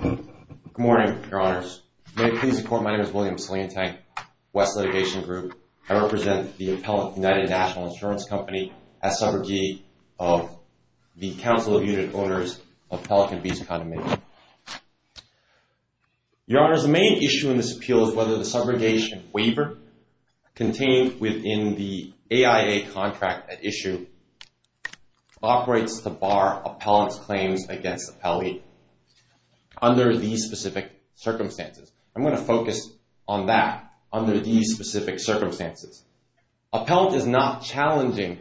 Good morning, Your Honors. May it please the Court, my name is William Salientang, West Litigation Group. I represent the appellate United National Insurance Company as subrogate of the Council of United Owners of Pelican Beach Condominium. Your Honors, the main issue in this appeal is whether the subrogation waiver contained within the AIA contract at the appellate under these specific circumstances. I'm going to focus on that, under these specific circumstances. Appellant is not challenging.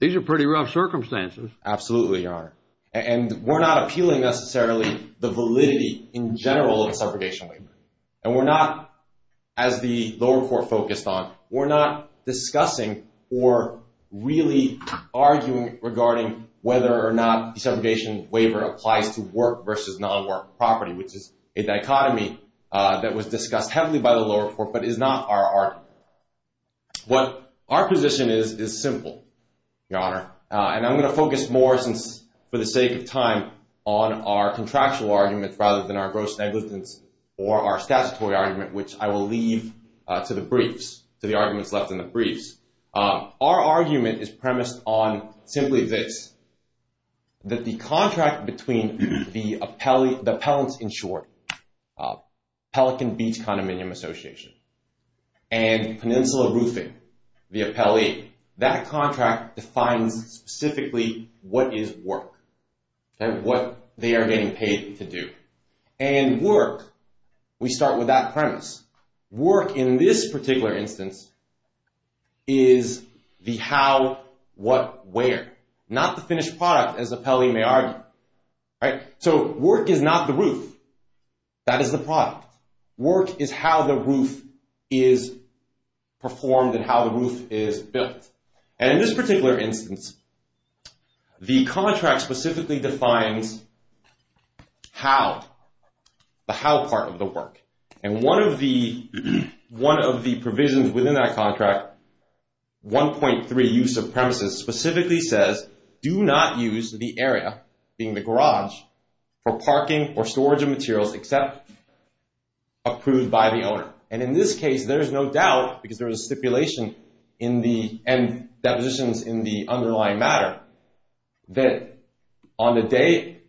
These are pretty rough circumstances. Absolutely, Your Honor. And we're not appealing necessarily the validity in general of the subrogation waiver. And we're not, as the lower court focused on, we're not discussing or really arguing regarding whether or not the subrogation waiver applies to work versus non-work property, which is a dichotomy that was discussed heavily by the lower court, but is not our argument. What our position is, is simple, Your Honor. And I'm going to focus more since for the sake of time on our contractual argument rather than our gross negligence or our statutory argument, which I will leave to the briefs, to the arguments left in the briefs. Our argument is premised on simply this, that the contract between the appellants in short, Pelican Beach Condominium Association, and Peninsula Roofing, the appellee, that contract defines specifically what is work and what they are getting paid to do. And work, we start with that premise. Work in this particular instance is the how, what, where. Not the finished product, as the appellee may argue. So work is not the roof. That is the product. Work is how the roof is performed and how the roof is built. And in this particular instance, the contract specifically defines how, the how part of the work. And one of the provisions within that contract, 1.3 use of premises, specifically says, do not use the area, being the garage, for parking or storage of materials except approved by the owner. And in this case, there On the day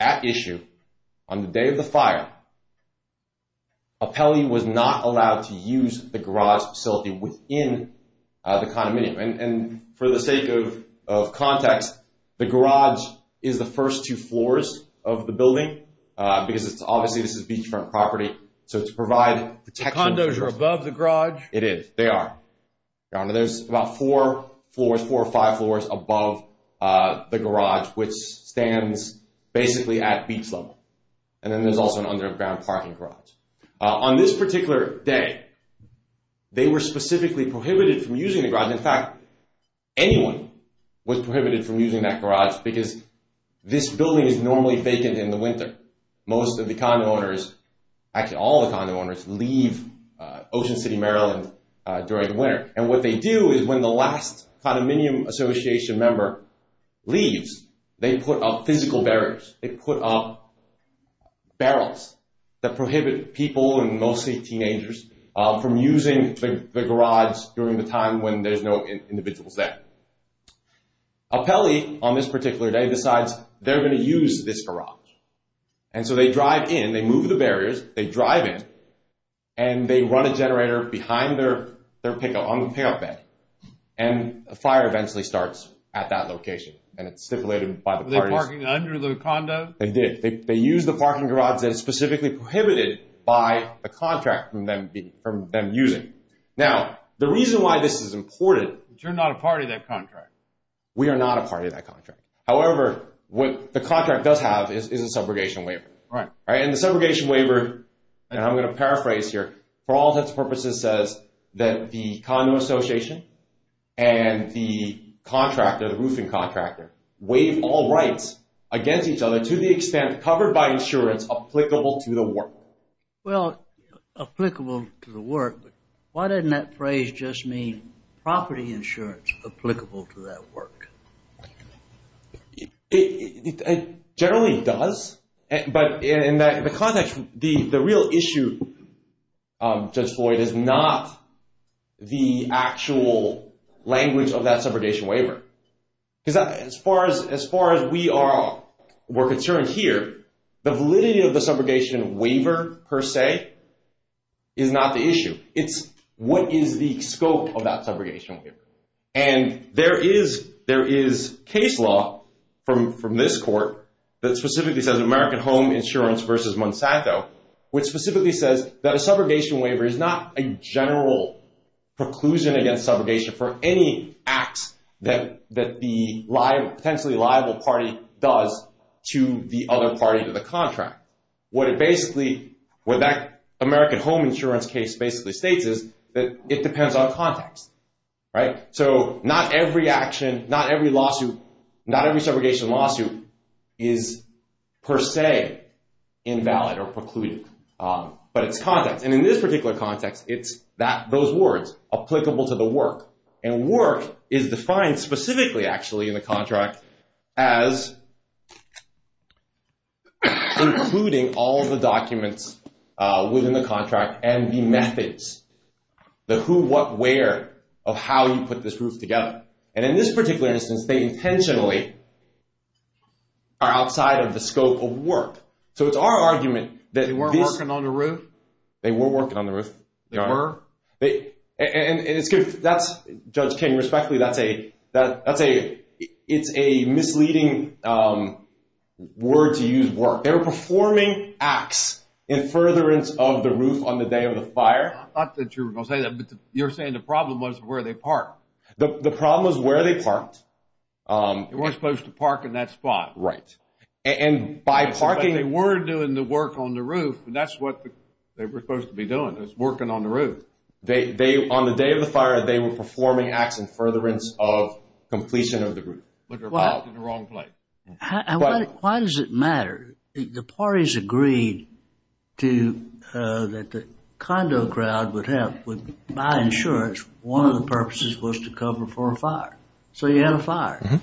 at issue, on the day of the fire, appellee was not allowed to use the garage facility within the condominium. And for the sake of context, the garage is the first two floors of the building, because it's obviously this is beachfront property. So to provide protection. Condos are above the garage? It is. They are. There's about four floors, four floors of the garage, which stands basically at beach level. And then there's also an underground parking garage. On this particular day, they were specifically prohibited from using the garage. In fact, anyone was prohibited from using that garage, because this building is normally vacant in the winter. Most of the condo owners, actually all the condo owners leave Ocean City, Maryland during the winter. And what they do is when the last condominium association member leaves, they put up physical barriers. They put up barrels that prohibit people and mostly teenagers from using the garage during the time when there's no individuals there. Appellee on this particular day decides they're going to use this garage. And so they drive in, they move the barriers, they drive in, and they run a generator behind their own payout bed. And a fire eventually starts at that location. And it's stipulated by the parties. Were they parking under the condo? They did. They used the parking garage that is specifically prohibited by a contract from them using. Now, the reason why this is important... But you're not a part of that contract. We are not a part of that contract. However, what the contract does have is a subrogation waiver. And the subrogation waiver, and I'm talking about the condo association and the contractor, the roofing contractor, waive all rights against each other to the extent covered by insurance applicable to the work. Well, applicable to the work, but why doesn't that phrase just mean property insurance applicable to that work? It generally does. But in the context, the real issue, Judge Floyd, is not the actual language of that subrogation waiver. As far as we are concerned here, the validity of the subrogation waiver per se is not the issue. It's what is the scope of that subrogation waiver. And there is case law from this court that specifically says American Home Insurance versus Monsanto, which specifically says that a subrogation waiver is not a general preclusion against subrogation for any acts that the potentially liable party does to the other party to the contract. What that American Home Insurance case basically states is that it depends on context. So not every action, not every lawsuit, not every subrogation lawsuit is per se invalid or precluded. But it's context. And in this particular context, it's those words, applicable to the work. And work is defined specifically, actually, in the contract as including all of the documents within the contract and the methods, the who, what, where of how you put this group together. And in this particular instance, they intentionally are outside of the scope of work. So it's our argument that this- They weren't working on the roof? They were working on the roof. They were? And it's good. Judge King, respectfully, it's a misleading word to use, work. They were performing acts in furtherance of the roof on the day of the fire. I thought that you were going to say that, but you're saying the problem was where they parked. The problem was where they parked. They weren't supposed to park in that spot. Right. And by parking- They were doing the work on the roof, and that's what they were supposed to be doing, was working on the roof. On the day of the fire, they were performing acts in furtherance of completion of the roof. But they were parked in the wrong place. Why does it matter? The parties agreed that the condo crowd would have, with my insurance, one of the purposes was to cover for a fire. So you had a fire.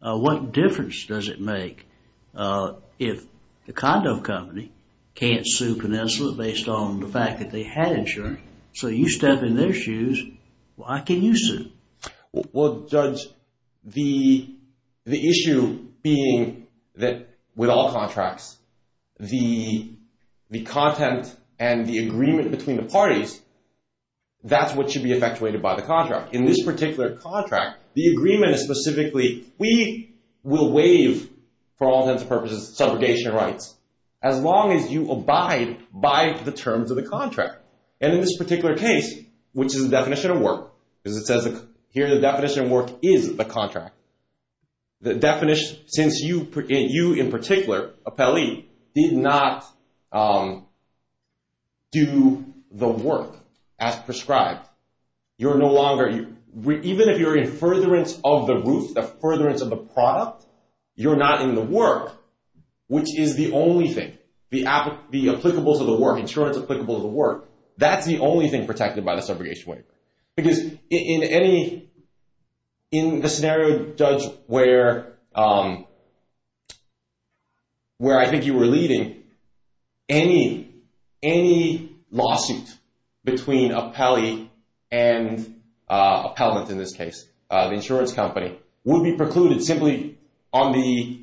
What difference does it make? The condo company can't sue Peninsula based on the fact that they had insurance. So you step in their shoes, why can you sue? Well, Judge, the issue being that with all contracts, the content and the agreement between the parties, that's what should be effectuated by the contract. In this particular contract, the agreement is specifically, we will waive, for all intents and purposes, subrogation rights, as long as you abide by the terms of the contract. And in this particular case, which is the definition of work, because it says here the definition of work is the contract. The definition, since you in particular, appellee, did not do the work as prescribed, you're no longer, even if you're in furtherance of the roof, the furtherance of the product, you're not in the work, which is the only thing, the applicables of the work, insurance applicable to the work, that's the only thing protected by the subrogation waiver. Because in the scenario, Judge, where I think you were leading, and you're not in the work, any lawsuit between appellee and appellant in this case, the insurance company, would be precluded simply on the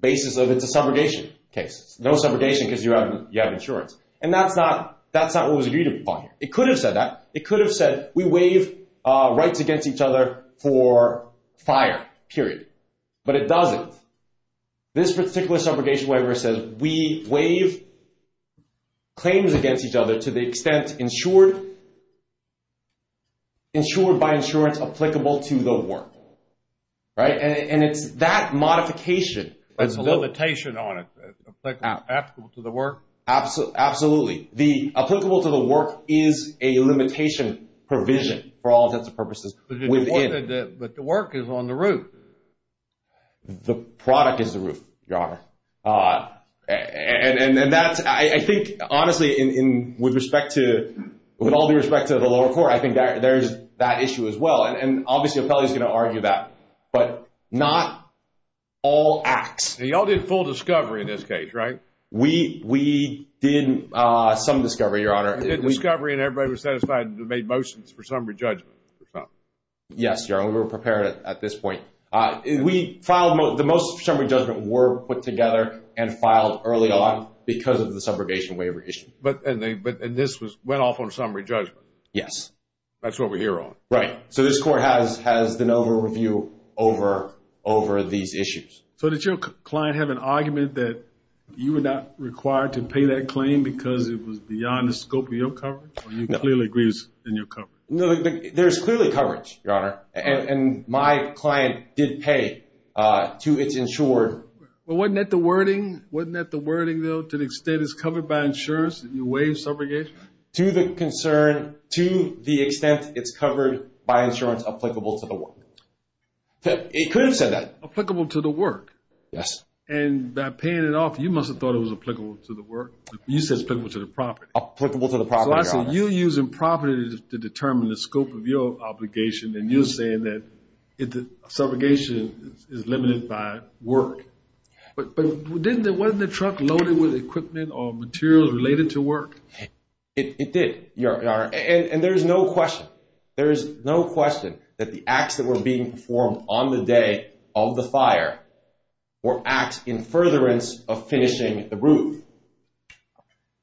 basis of it's a subrogation case. No subrogation because you have insurance. And that's not what was agreed upon here. It could have said that. It could have said, we waive rights against each other for fire, period. But it doesn't. This particular subrogation waiver says, we waive claims against each other to the extent insured by insurance applicable to the work. Right? And it's that modification. That's the limitation on it. Applicable to the work. Absolutely. The applicable to the work is a limitation provision for all intents and purposes. But the work is on the roof. The product is the roof, Your Honor. And that's, I think, honestly, with respect to, with all due respect to the lower court, I think there's that issue as well. And obviously, appellee is going to argue that. But not all acts. Y'all did full discovery in this case, right? We did some discovery, Your Honor. We did discovery and everybody was satisfied and made motions for summary judgment. Yes, Your Honor. We were prepared at this point. We filed, the most summary judgment were put together and filed early on because of the subrogation waiver issue. And this went off on summary judgment? Yes. That's what we're here on. Right. So this court has an overview over these issues. So did your client have an argument that you were not required to pay that claim because it was beyond the scope of your coverage or you clearly agrees in your coverage? No, there's clearly coverage, Your Honor. And my client did pay to its insured. But wasn't that the wording? Wasn't that the wording, though, to the extent it's covered by insurance that you waive subrogation? To the concern, to the extent it's covered by insurance applicable to the work. It could have said that. Applicable to the work. Yes. And by paying it off, you must have thought it was applicable to the work. You said it's applicable to the property. Applicable to the property, Your Honor. So you're using property to determine the scope of your obligation and you're saying that subrogation is limited by work. But wasn't the truck loaded with equipment or materials related to work? It did, Your Honor. And there's no question. That the acts that were being performed on the day of the fire were acts in furtherance of finishing the roof.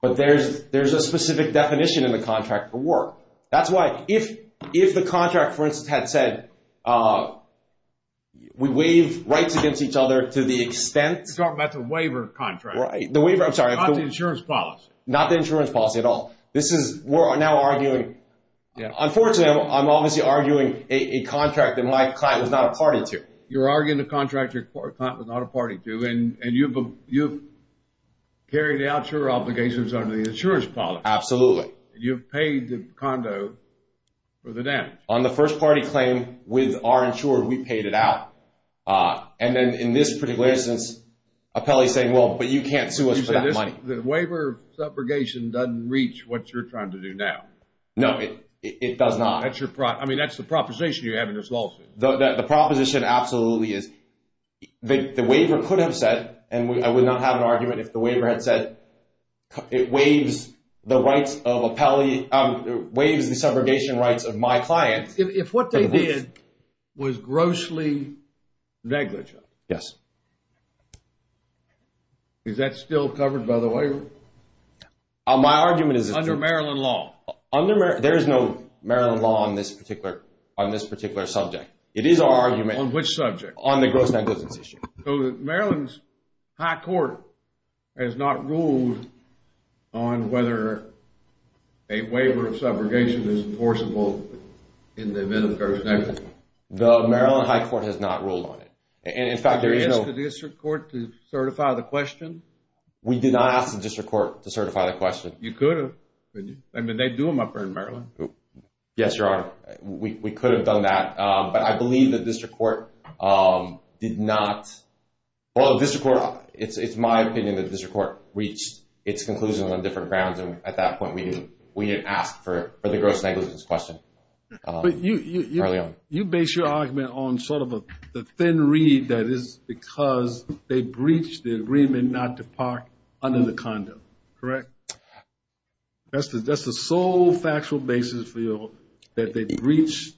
But there's a specific definition in the contract for work. That's why if the contract, for instance, had said we waive rights against each other to the extent... You're talking about the waiver contract. The waiver, I'm sorry. Not the insurance policy. Not the insurance policy at all. This is, we're now arguing... Unfortunately, I'm obviously arguing a contract that my client was not a party to. You're arguing a contract your client was not a party to and you've carried out your obligations under the insurance policy. Absolutely. You've paid the condo for the damage. On the first party claim with our insurer, we paid it out. And then in this particular instance, appellee's saying, well, but you can't sue us for that money. The waiver of subrogation doesn't reach what you're trying to do now. No, it does not. I mean, that's the proposition you're having to solve. The proposition absolutely is the waiver could have said, and I would not have an argument if the waiver had said, it waives the subrogation rights of my client. If what they did was grossly negligent. Yes. Is that still covered by the waiver? My argument is... Under Maryland law. There is no Maryland law on this particular subject. It is our argument... On which subject? On the gross negligence issue. So Maryland's high court has not ruled on whether a waiver of subrogation is enforceable in the event of gross negligence? The Maryland high court has not ruled on it. And in fact, there is no... Did you ask the district court to certify the question? We did not ask the district court to certify the question. You could have. I mean, they do them up there in Maryland. Yes, Your Honor. We could have done that. But I believe the district court did not... Well, the district court... It's my opinion that the district court reached its conclusion on different grounds. And at that point, we didn't ask for the gross negligence question. But you base your argument on sort of the thin reed that is because they breached the agreement not to park under the condo. Correct? That's the sole factual basis for your... That they breached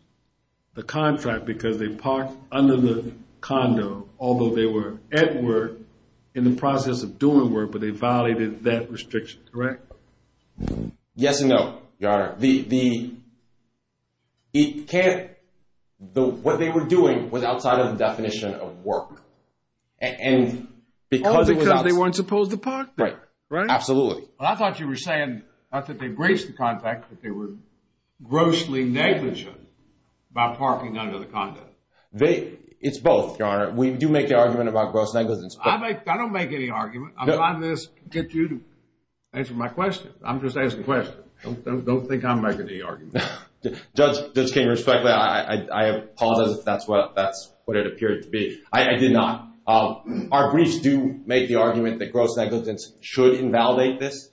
the contract because they parked under the condo, although they were at work in the process of doing work, but they violated that restriction. Correct? Yes and no, Your Honor. The... It can't... What they were doing was outside of the definition of work. And because it was... All because they weren't supposed to park there. Right. Absolutely. I thought you were saying not that they breached the contract, but they were grossly negligent about parking under the condo. It's both, Your Honor. We do make the argument about gross negligence. I don't make any argument. I'm allowing this to get you to answer my question. I'm just asking a question. Don't think I'm making any argument. Judge King, respectfully, I apologize if that's what it appeared to be. I did not. Our briefs do make the argument that gross negligence should invalidate this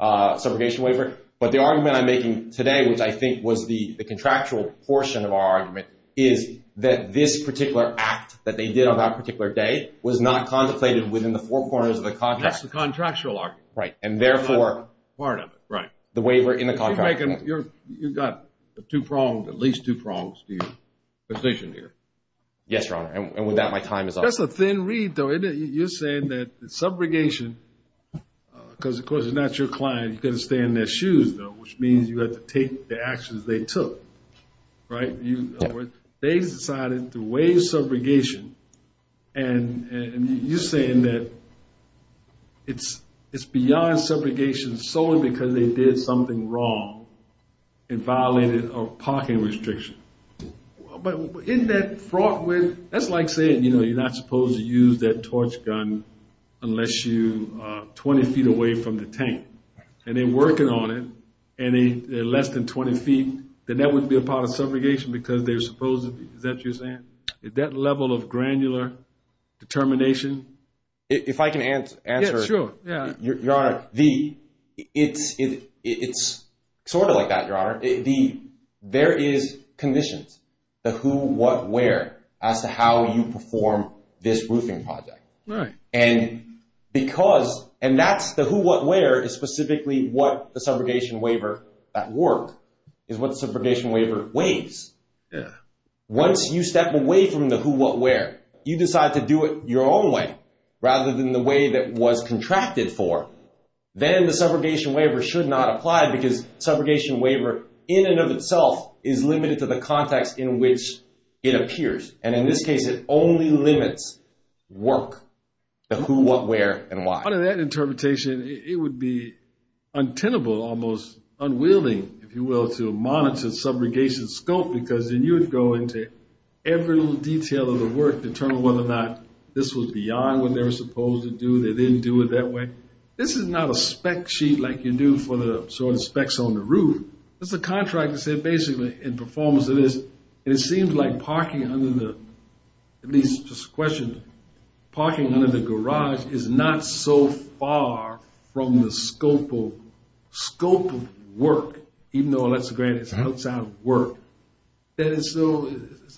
subrogation waiver. But the argument I'm making today, which I think was the contractual portion of our argument, is that this particular act that they did on that particular day was not contemplated within the four corners of the contract. That's the contractual argument. Right. And therefore... Part of it. Right. The waiver in the contract. You've got at least two prongs to your position here. Yes, Your Honor. And with that, my time is up. That's a thin reed, though, isn't it? You're saying that subrogation, because, of course, it's not your client, you've got to stay in their shoes, though, which means you have to take the actions they took. Right? They decided to waive subrogation, and you're saying that it's beyond subrogation solely because they did something wrong and violated a parking restriction. But isn't that fraught with... That's like saying, you know, you're not supposed to use that torch gun unless you're 20 feet away from the tank. And they're working on it, and they're less than 20 feet, then that wouldn't be a part of subrogation because they're supposed to be. Is that what you're saying? Is that level of granular determination? If I can answer... Yeah, sure. Your Honor, it's sort of like that, Your Honor. There is conditions, the who, what, where, as to how you perform this roofing project. Right. And that's the who, what, where is specifically what the subrogation waiver at work is what the subrogation waiver weighs. Yeah. Once you step away from the who, what, where, you decide to do it your own way rather than the way that was contracted for, then the subrogation waiver should not apply because subrogation waiver in and of itself is limited to the context in which it appears. And in this case, it only limits work, the who, what, where, and why. Under that interpretation, it would be untenable, almost unwilling, if you will, to monitor subrogation scope because then you would go into every little detail of the work to determine whether or not this was beyond what they were supposed to do. They didn't do it that way. This is not a spec sheet like you do for the sort of specs on the roof. That's a contract that said basically in performance it is. And it seems like parking under the, at least just a question, parking under the garage is not so far from the scope of work, even though Alexa Grant is outside of work. It's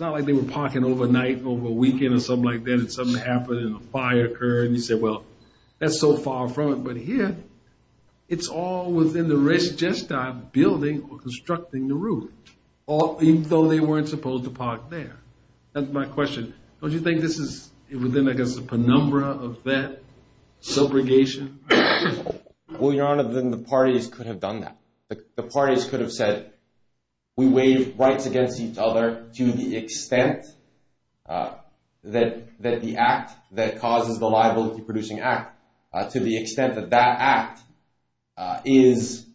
not like they were parking overnight over a weekend or something like that and something happened and a fire occurred and you said, well, that's so far from it. But here it's all within the risk just of building or constructing the roof, even though they weren't supposed to park there. That's my question. Don't you think this is within, I guess, the penumbra of that subrogation? Well, Your Honor, then the parties could have done that. The parties could have said we waive rights against each other to the extent that the act that causes the liability producing act to the extent that that act is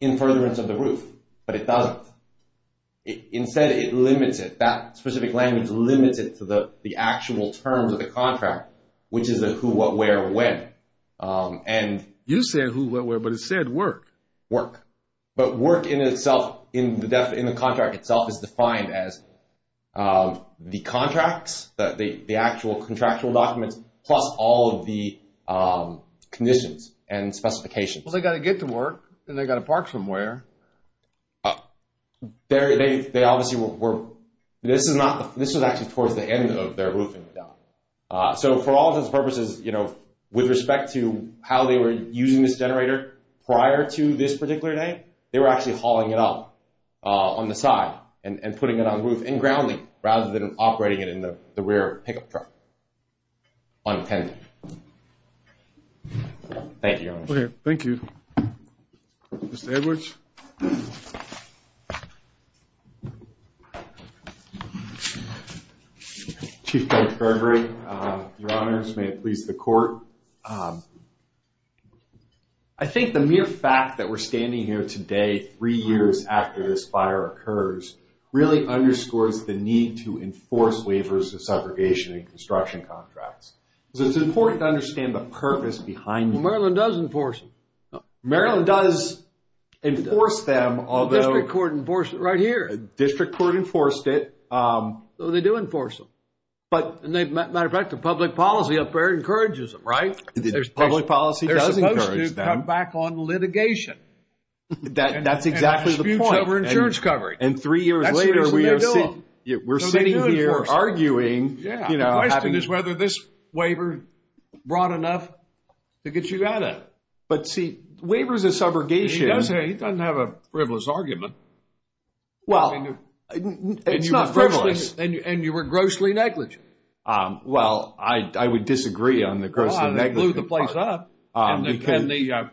in furtherance of the roof, but it doesn't. Instead, it limits it. That specific language limits it to the actual terms of the contract, which is a who, what, where, when. You said who, what, where, but it said work. Work. But work in itself, in the contract itself, is defined as the contracts, the actual contractual documents, plus all of the conditions and specifications. Well, they've got to get to work and they've got to park somewhere. They obviously were. This was actually towards the end of their roofing. So for all intents and purposes, you know, with respect to how they were using this generator prior to this particular day, they were actually hauling it up on the side and putting it on the roof and grounding rather than operating it in the rear pickup truck. Thank you, Your Honor. Thank you. Mr. Edwards? Chief Judge Burberry, Your Honors, may it please the Court. I think the mere fact that we're standing here today, three years after this fire occurs, really underscores the need to enforce waivers of segregation in construction contracts. So it's important to understand the purpose behind it. Maryland does enforce them. Maryland does enforce them, although- The District Court enforced it right here. The District Court enforced it. So they do enforce them. Matter of fact, the public policy up there encourages them, right? The public policy does encourage them. They're supposed to come back on litigation. That's exactly the point. And that disputes over insurance coverage. And three years later, we're sitting here arguing. The question is whether this waiver brought enough to get you out of it. But see, waivers of subrogation- He doesn't have a frivolous argument. Well, it's not frivolous. And you were grossly negligent. Well, I would disagree on the gross negligence part. It blew the place up. But the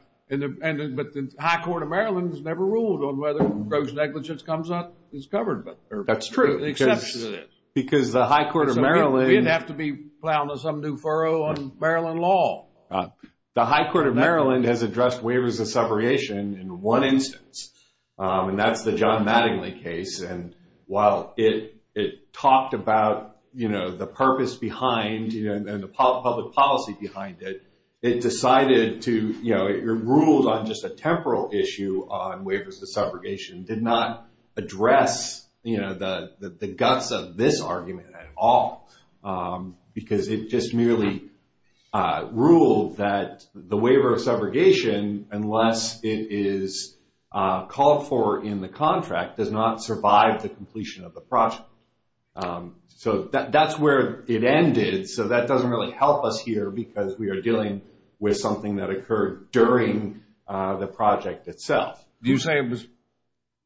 high court of Maryland has never ruled on whether gross negligence comes up as covered. That's true. Because the high court of Maryland- We didn't have to be plowing some new furrow on Maryland law. The high court of Maryland has addressed waivers of subrogation in one instance. And that's the John Mattingly case. And while it talked about the purpose behind and the public policy behind it, it decided to- It ruled on just a temporal issue on waivers of subrogation. It did not address the guts of this argument at all. Because it just merely ruled that the waiver of subrogation, unless it is called for in the contract, does not survive the completion of the project. So that's where it ended. So that doesn't really help us here, because we are dealing with something that occurred during the project itself. You say it was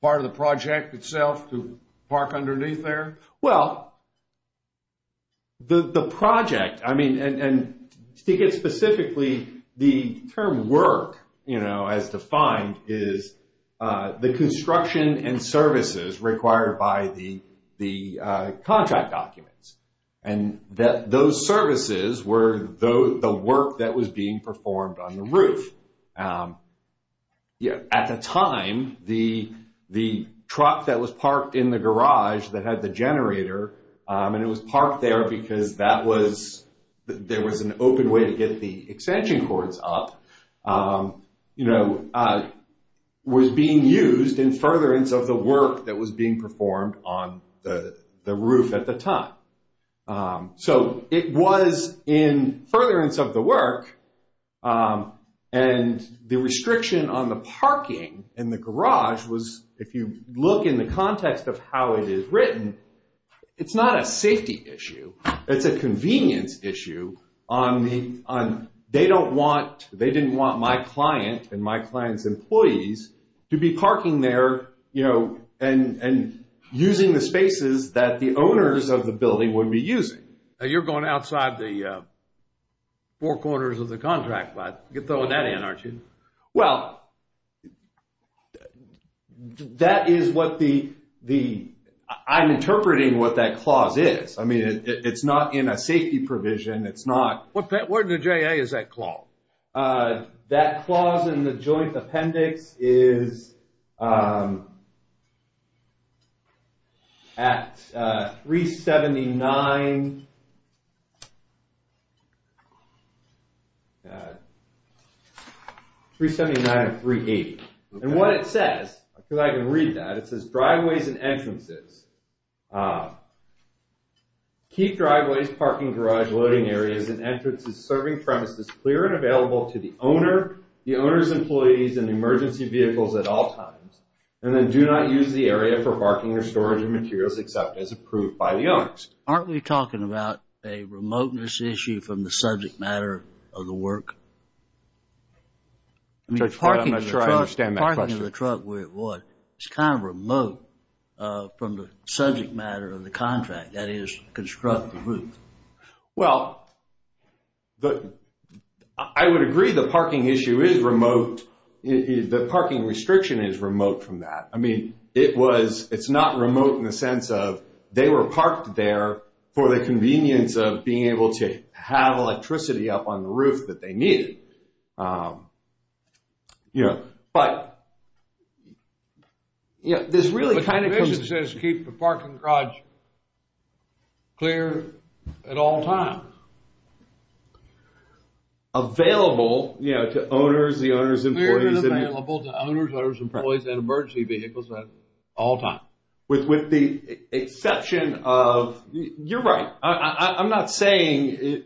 part of the project itself to park underneath there? Well, the project- I mean, and to get specifically the term work, you know, as defined is the construction and services required by the contract documents. And those services were the work that was being performed on the roof. At the time, the truck that was parked in the garage that had the generator, and it was parked there because that was- there was an open way to get the extension cords up, you know, was being used in furtherance of the work that was being performed on the roof at the time. So it was in furtherance of the work. And the restriction on the parking in the garage was, if you look in the context of how it is written, it's not a safety issue. It's a convenience issue on the- they don't want- they didn't want my client and my client's employees to be parking there, you know, and using the spaces that the owners of the building would be using. You're going outside the four corners of the contract, bud. You're throwing that in, aren't you? Well, that is what the- I'm interpreting what that clause is. I mean, it's not in a safety provision. It's not- Where in the JA is that clause? That clause in the joint appendix is at 379- 379 of 380. And what it says, I feel like I can read that. It says, driveways and entrances. Key driveways, parking garage, loading areas, and entrances, serving premises clear and available to the owner, the owner's employees, and emergency vehicles at all times. And then do not use the area for parking or storage of materials except as approved by the owners. Aren't we talking about a remoteness issue from the subject matter of the work? I'm not sure I understand that question. It's kind of remote from the subject matter of the contract. That is, construct the roof. Well, I would agree the parking issue is remote. The parking restriction is remote from that. I mean, it's not remote in the sense of they were parked there for the convenience of being able to have electricity up on the roof that they needed. But this really kind of comes- But the commission says keep the parking garage clear at all times. Available to owners, the owner's employees- Clear and available to owners, owner's employees, and emergency vehicles at all times. With the exception of, you're right. I'm not saying-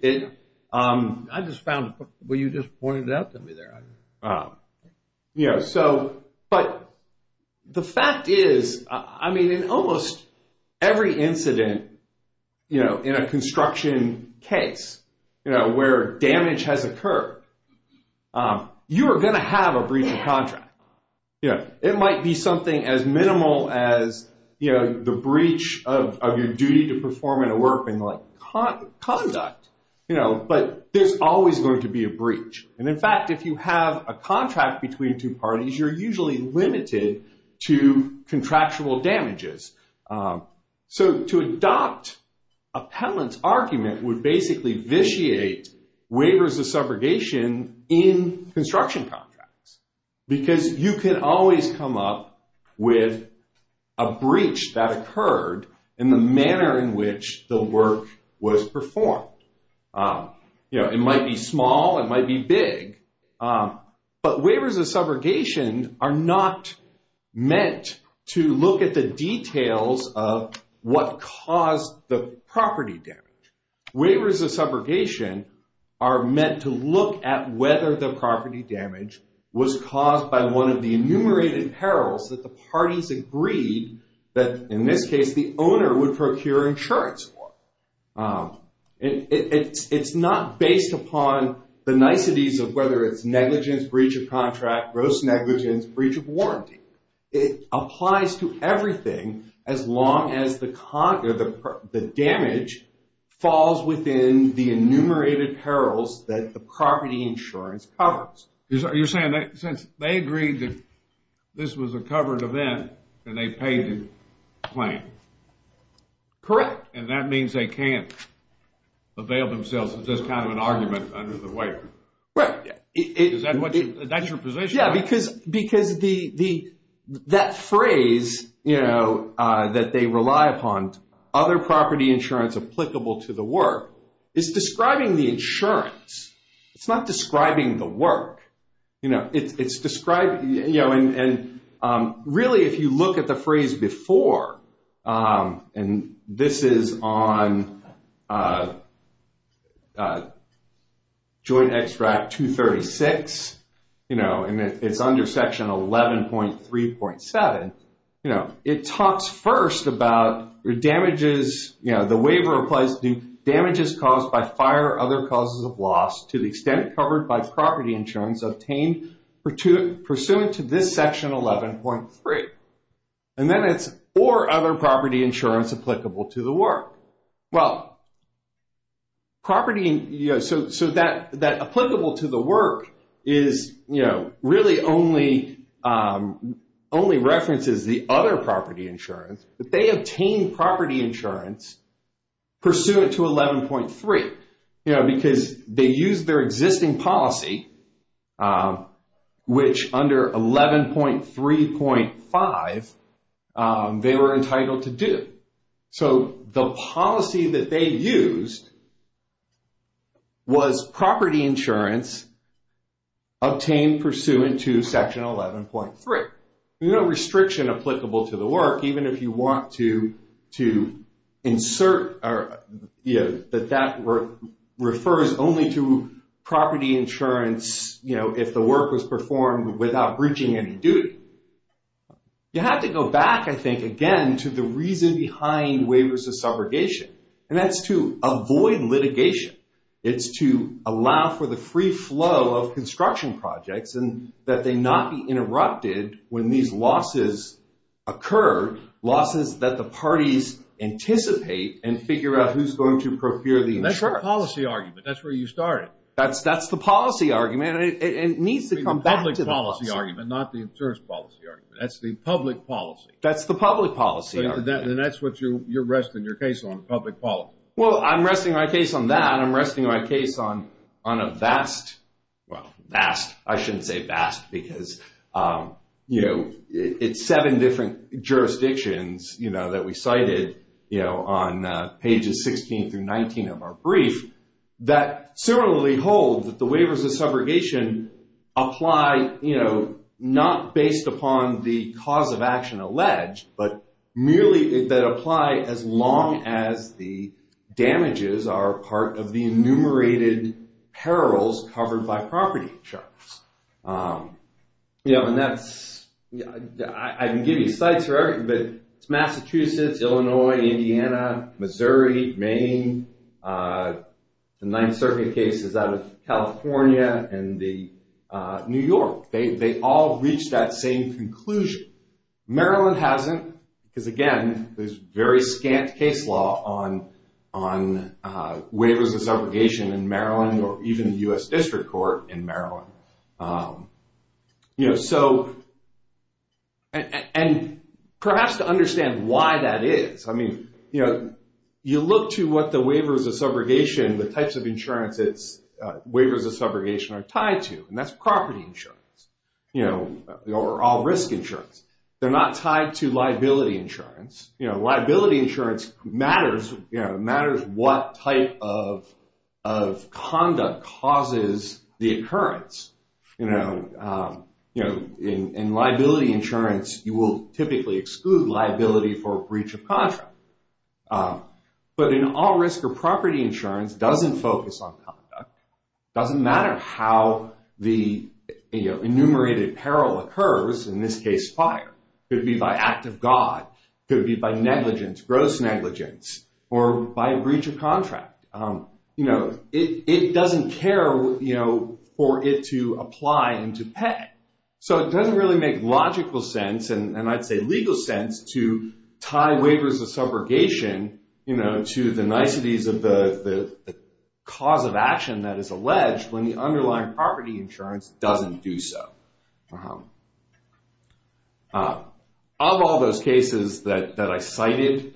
I just found- Well, you just pointed it out to me there. Yeah, so- But the fact is, I mean, in almost every incident, you know, in a construction case, you know, where damage has occurred, you are going to have a breach of contract. It might be something as minimal as, you know, the breach of your duty to perform in a work being like conduct. You know, but there's always going to be a breach. And in fact, if you have a contract between two parties, you're usually limited to contractual damages. So to adopt a penalty argument would basically vitiate waivers of subrogation in construction contracts. in the manner in which the work was performed. You know, it might be small, it might be big, but waivers of subrogation are not meant to look at the details of what caused the property damage. Waivers of subrogation are meant to look at whether the property damage was caused by one of the enumerated perils that the parties agreed that, in this case, the owner would procure insurance for. It's not based upon the niceties of whether it's negligence, breach of contract, gross negligence, breach of warranty. It applies to everything as long as the damage falls within the enumerated perils that the property insurance covers. You're saying that since they agreed that this was a covered event and they paid the claim. Correct. And that means they can't avail themselves of this kind of an argument under the waiver. Right. Is that your position? Yeah, because that phrase, you know, that they rely upon, other property insurance applicable to the work, is describing the insurance. It's not describing the work, you know, it's describing, you know, and really if you look at the phrase before, and this is on Joint Extract 236, you know, and it's under Section 11.3.7, you know, it talks first about damages, you know, and the waiver applies to damages caused by fire or other causes of loss to the extent covered by property insurance obtained pursuant to this Section 11.3. And then it's or other property insurance applicable to the work. Well, property, you know, so that applicable to the work is, you know, really only references the other property insurance, but they obtain property insurance pursuant to 11.3, you know, because they use their existing policy, which under 11.3.5 they were entitled to do. So the policy that they used was property insurance obtained pursuant to Section 11.3. There's no restriction applicable to the work even if you want to insert or, you know, that that refers only to property insurance, you know, if the work was performed without breaching any duty. You have to go back, I think, again, to the reason behind waivers of subrogation, and that's to avoid litigation. It's to allow for the free flow of construction projects and that they not be interrupted when these losses occur, losses that the parties anticipate and figure out who's going to procure the insurance. That's the policy argument. That's where you started. That's the policy argument. It needs to come back to the policy. The public policy argument, not the insurance policy argument. That's the public policy. That's the public policy argument. And that's what you're resting your case on, public policy. Well, I'm resting my case on that. I'm resting my case on a vast, well, vast, I shouldn't say vast because, you know, it's seven different jurisdictions, you know, that we cited, you know, on pages 16 through 19 of our brief, that similarly hold that the waivers of subrogation apply, you know, not based upon the cause of action alleged, but merely that apply as long as the damages are part of the enumerated perils covered by property charges. You know, and that's, I can give you sites for everything, but it's Massachusetts, Illinois, Indiana, Missouri, Maine. The Ninth Circuit case is out of California and New York. They all reach that same conclusion. Maryland hasn't because, again, there's very scant case law on waivers of subrogation in Maryland. Or even the U.S. District Court in Maryland. You know, so, and perhaps to understand why that is. I mean, you know, you look to what the waivers of subrogation, the types of insurances waivers of subrogation are tied to, and that's property insurance, you know, or all risk insurance. They're not tied to liability insurance. You know, liability insurance matters, you know, if conduct causes the occurrence. You know, in liability insurance, you will typically exclude liability for breach of contract. But in all risk or property insurance, it doesn't focus on conduct. It doesn't matter how the enumerated peril occurs, in this case, fire. It could be by act of God. It could be by negligence, gross negligence, or by breach of contract. You know, it doesn't care, you know, for it to apply and to pay. So it doesn't really make logical sense, and I'd say legal sense, to tie waivers of subrogation, you know, to the niceties of the cause of action that is alleged when the underlying property insurance doesn't do so. Of all those cases that I cited,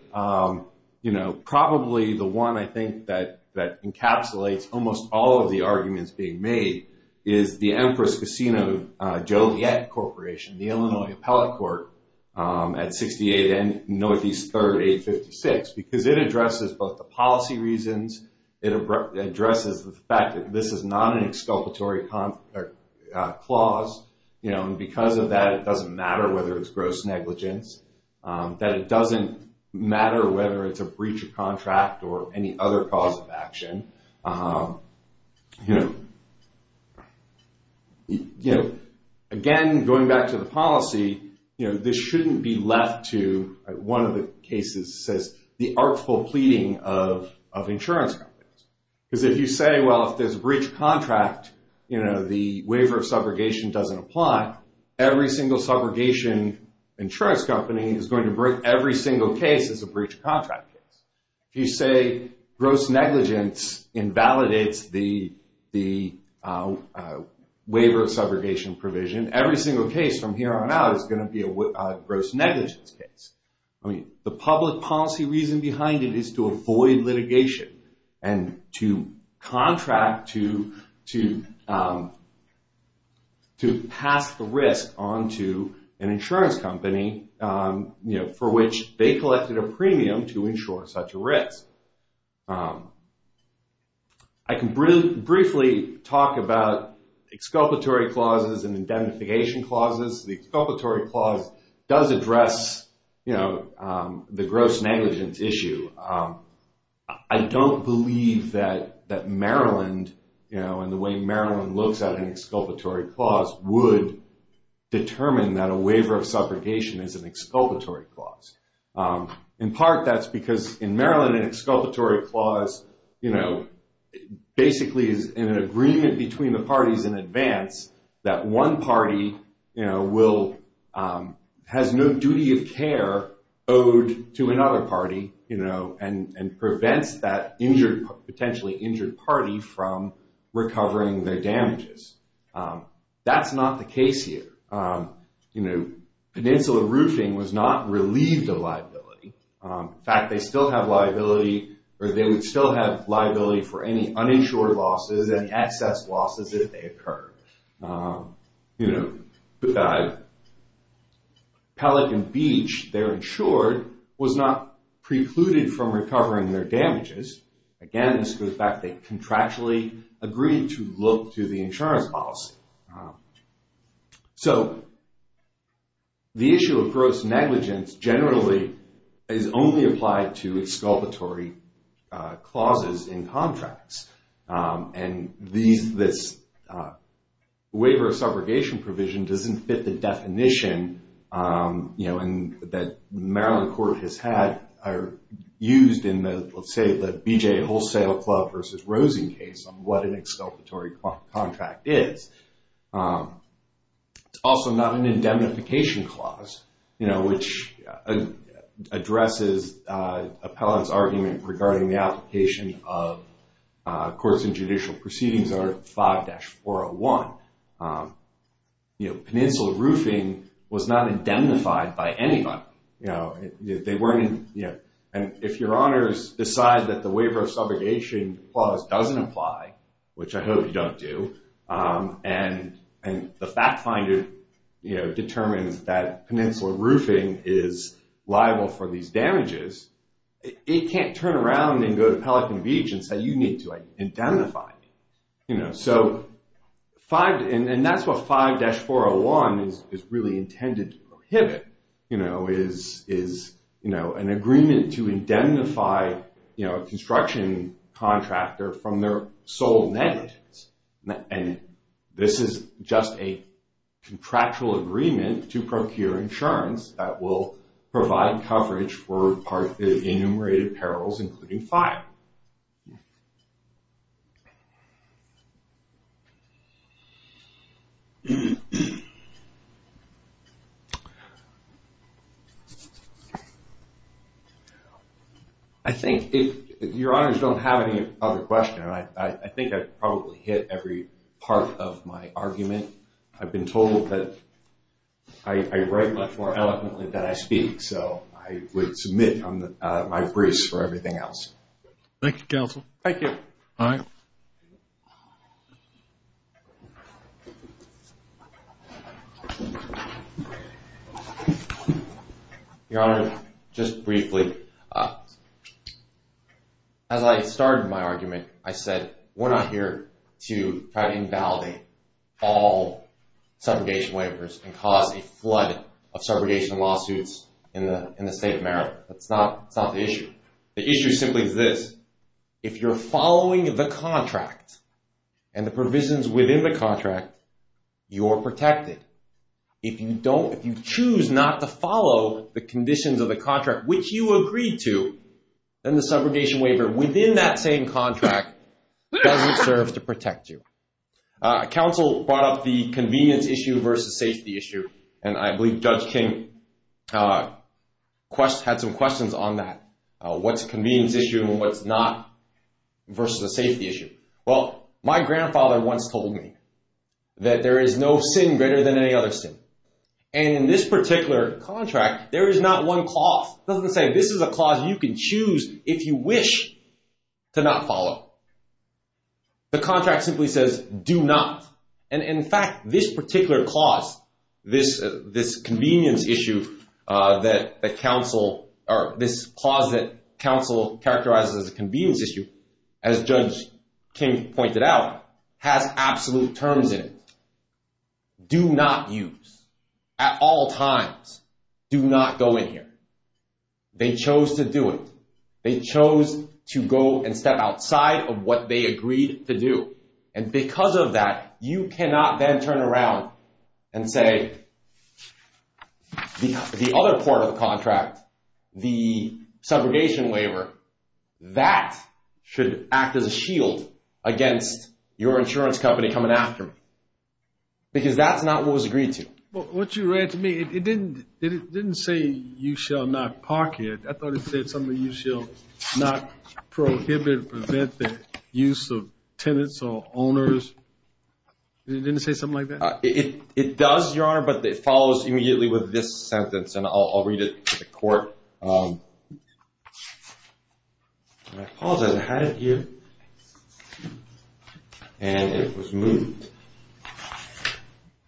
you know, probably the one I think that encapsulates almost all of the arguments being made is the Empress Casino Joliet Corporation, the Illinois Appellate Court, at 68 Northeast 3rd, 856, because it addresses both the policy reasons. It addresses the fact that this is not an exculpatory clause, you know, and because of that, it doesn't matter whether it's gross negligence, that it doesn't matter whether it's a breach of contract or any other cause of action. Again, going back to the policy, you know, this shouldn't be left to, one of the cases says, the artful pleading of insurance companies. Because if you say, well, if there's a breach of contract, you know, the waiver of subrogation doesn't apply, every single subrogation insurance company is going to break every single case as a breach of contract case. If you say gross negligence invalidates the waiver of subrogation provision, every single case from here on out is going to be a gross negligence case. I mean, the public policy reason behind it is to avoid litigation and to contract to pass the risk onto an insurance company, you know, for which they collected a premium to ensure such a risk. I can briefly talk about exculpatory clauses and indemnification clauses. The exculpatory clause does address, you know, the gross negligence issue. I don't believe that Maryland, you know, and the way Maryland looks at an exculpatory clause would determine that a waiver of subrogation is an exculpatory clause. In part, that's because in Maryland, an exculpatory clause, you know, basically is an agreement between the parties in advance that one party, you know, has no duty of care owed to another party, you know, and prevents that potentially injured party from recovering their damages. That's not the case here. You know, Peninsula Roofing was not relieved of liability. In fact, they still have liability or they would still have liability for any uninsured losses and excess losses if they occur. You know, Pelican Beach, they're insured, was not precluded from recovering their damages. Again, this goes back, they contractually agreed to look to the insurance policy. So, the issue of gross negligence generally is only applied to exculpatory clauses in contracts. And this waiver of subrogation provision doesn't fit the definition, you know, that Maryland court has had or used in the, let's say, the BJA Wholesale Club versus Rosen case on what an exculpatory contract is. It's also not an indemnification clause, you know, which addresses Appellant's argument regarding the application of Courts and Judicial Proceedings Art 5-401. You know, Peninsula Roofing was not indemnified by anybody. You know, they weren't, you know, and if your honors decide that the waiver of subrogation clause doesn't apply, which I hope you don't do, and the fact finder, you know, it can't turn around and go to Pelican Beach and say, you need to indemnify me. You know, so, and that's what 5-401 is really intended to prohibit, you know, is an agreement to indemnify, you know, a construction contractor from their sole negligence. And this is just a contractual agreement to procure insurance that will provide coverage for part of the enumerated perils including five. I think if your honors don't have any other question, I think I've probably hit every part of my argument. I've been told that I write much more eloquently than I speak, so I would submit my briefs for everything else. Thank you, counsel. Thank you. All right. Your honor, just briefly, as I started my argument, I said, we're not here to try to invalidate all subrogation waivers and cause a flood of subrogation lawsuits in the state of Maryland. That's not the issue. The issue simply is this. If you're following the contract and the provisions within the contract, you're protected. If you don't, if you choose not to follow the conditions of the contract, which you agreed to, then the subrogation waiver within that same contract doesn't serve to protect you. Counsel brought up the convenience issue versus safety issue, and I believe Judge King had some questions on that. What's a convenience issue and what's not versus a safety issue? Well, my grandfather once told me that there is no sin greater than any other sin. And in this particular contract, there is not one clause. It doesn't say this is a clause you can choose if you wish to not follow. The contract simply says do not. And in fact, this particular clause, this convenience issue that counsel, or this clause that counsel characterizes as a convenience issue, as Judge King pointed out, has absolute terms in it. Do not use at all times. Do not go in here. They chose to do it. They chose to go and step outside of what they agreed to do. And because of that, you cannot then turn around and say the other part of the contract, the subrogation waiver, that should act as a shield against your insurance company coming after me. Because that's not what was agreed to. Well, what you read to me, it didn't say you shall not park it. I thought it said something, you shall not prohibit or prevent the use of tenants or owners. It didn't say something like that? It does, Your Honor, but it follows immediately with this sentence, and I'll read it to the court. And I apologize, I had it here. And it was moved.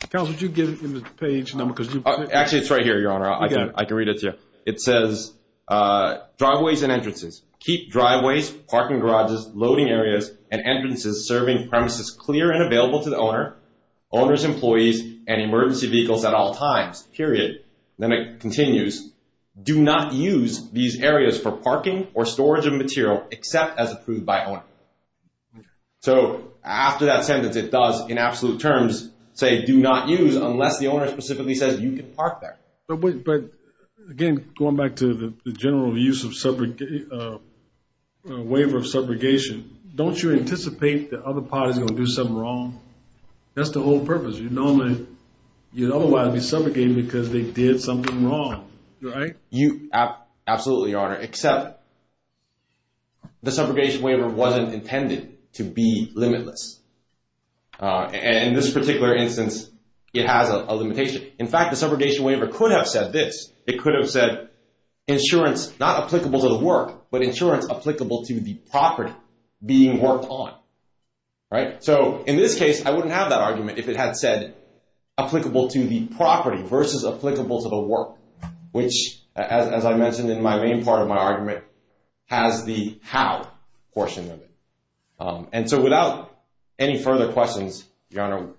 Counsel, did you get it in the page number? Actually, it's right here, Your Honor. I can read it to you. It says, driveways and entrances, keep driveways, parking garages, loading areas, and entrances serving premises clear and available to the owner, owners, employees, and emergency vehicles at all times, period. Then it continues, do not use these areas for parking or storage of material except as approved by owner. So after that sentence, it does, in absolute terms, say do not use unless the owner specifically says you can park there. But again, going back to the general use of waiver of subrogation, don't you anticipate the other parties are going to do something wrong? That's the whole purpose. You'd otherwise be subrogating because they did something wrong, right? Absolutely, Your Honor, except the subrogation waiver wasn't intended to be limitless. In this particular instance, it has a limitation. In fact, the subrogation waiver could have said this. It could have said insurance not applicable to the work, but insurance applicable to the property being worked on. So in this case, I wouldn't have that argument if it had said applicable to the property versus applicable to the work, which, as I mentioned in my main part of my argument, has the how portion of it. And so without any further questions, Your Honor,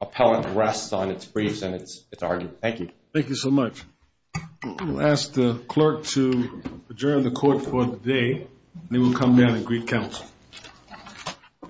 appellant rests on its briefs and its argument. Thank you. Thank you so much. We'll ask the clerk to adjourn the court for the day, and then we'll come down and greet counsel.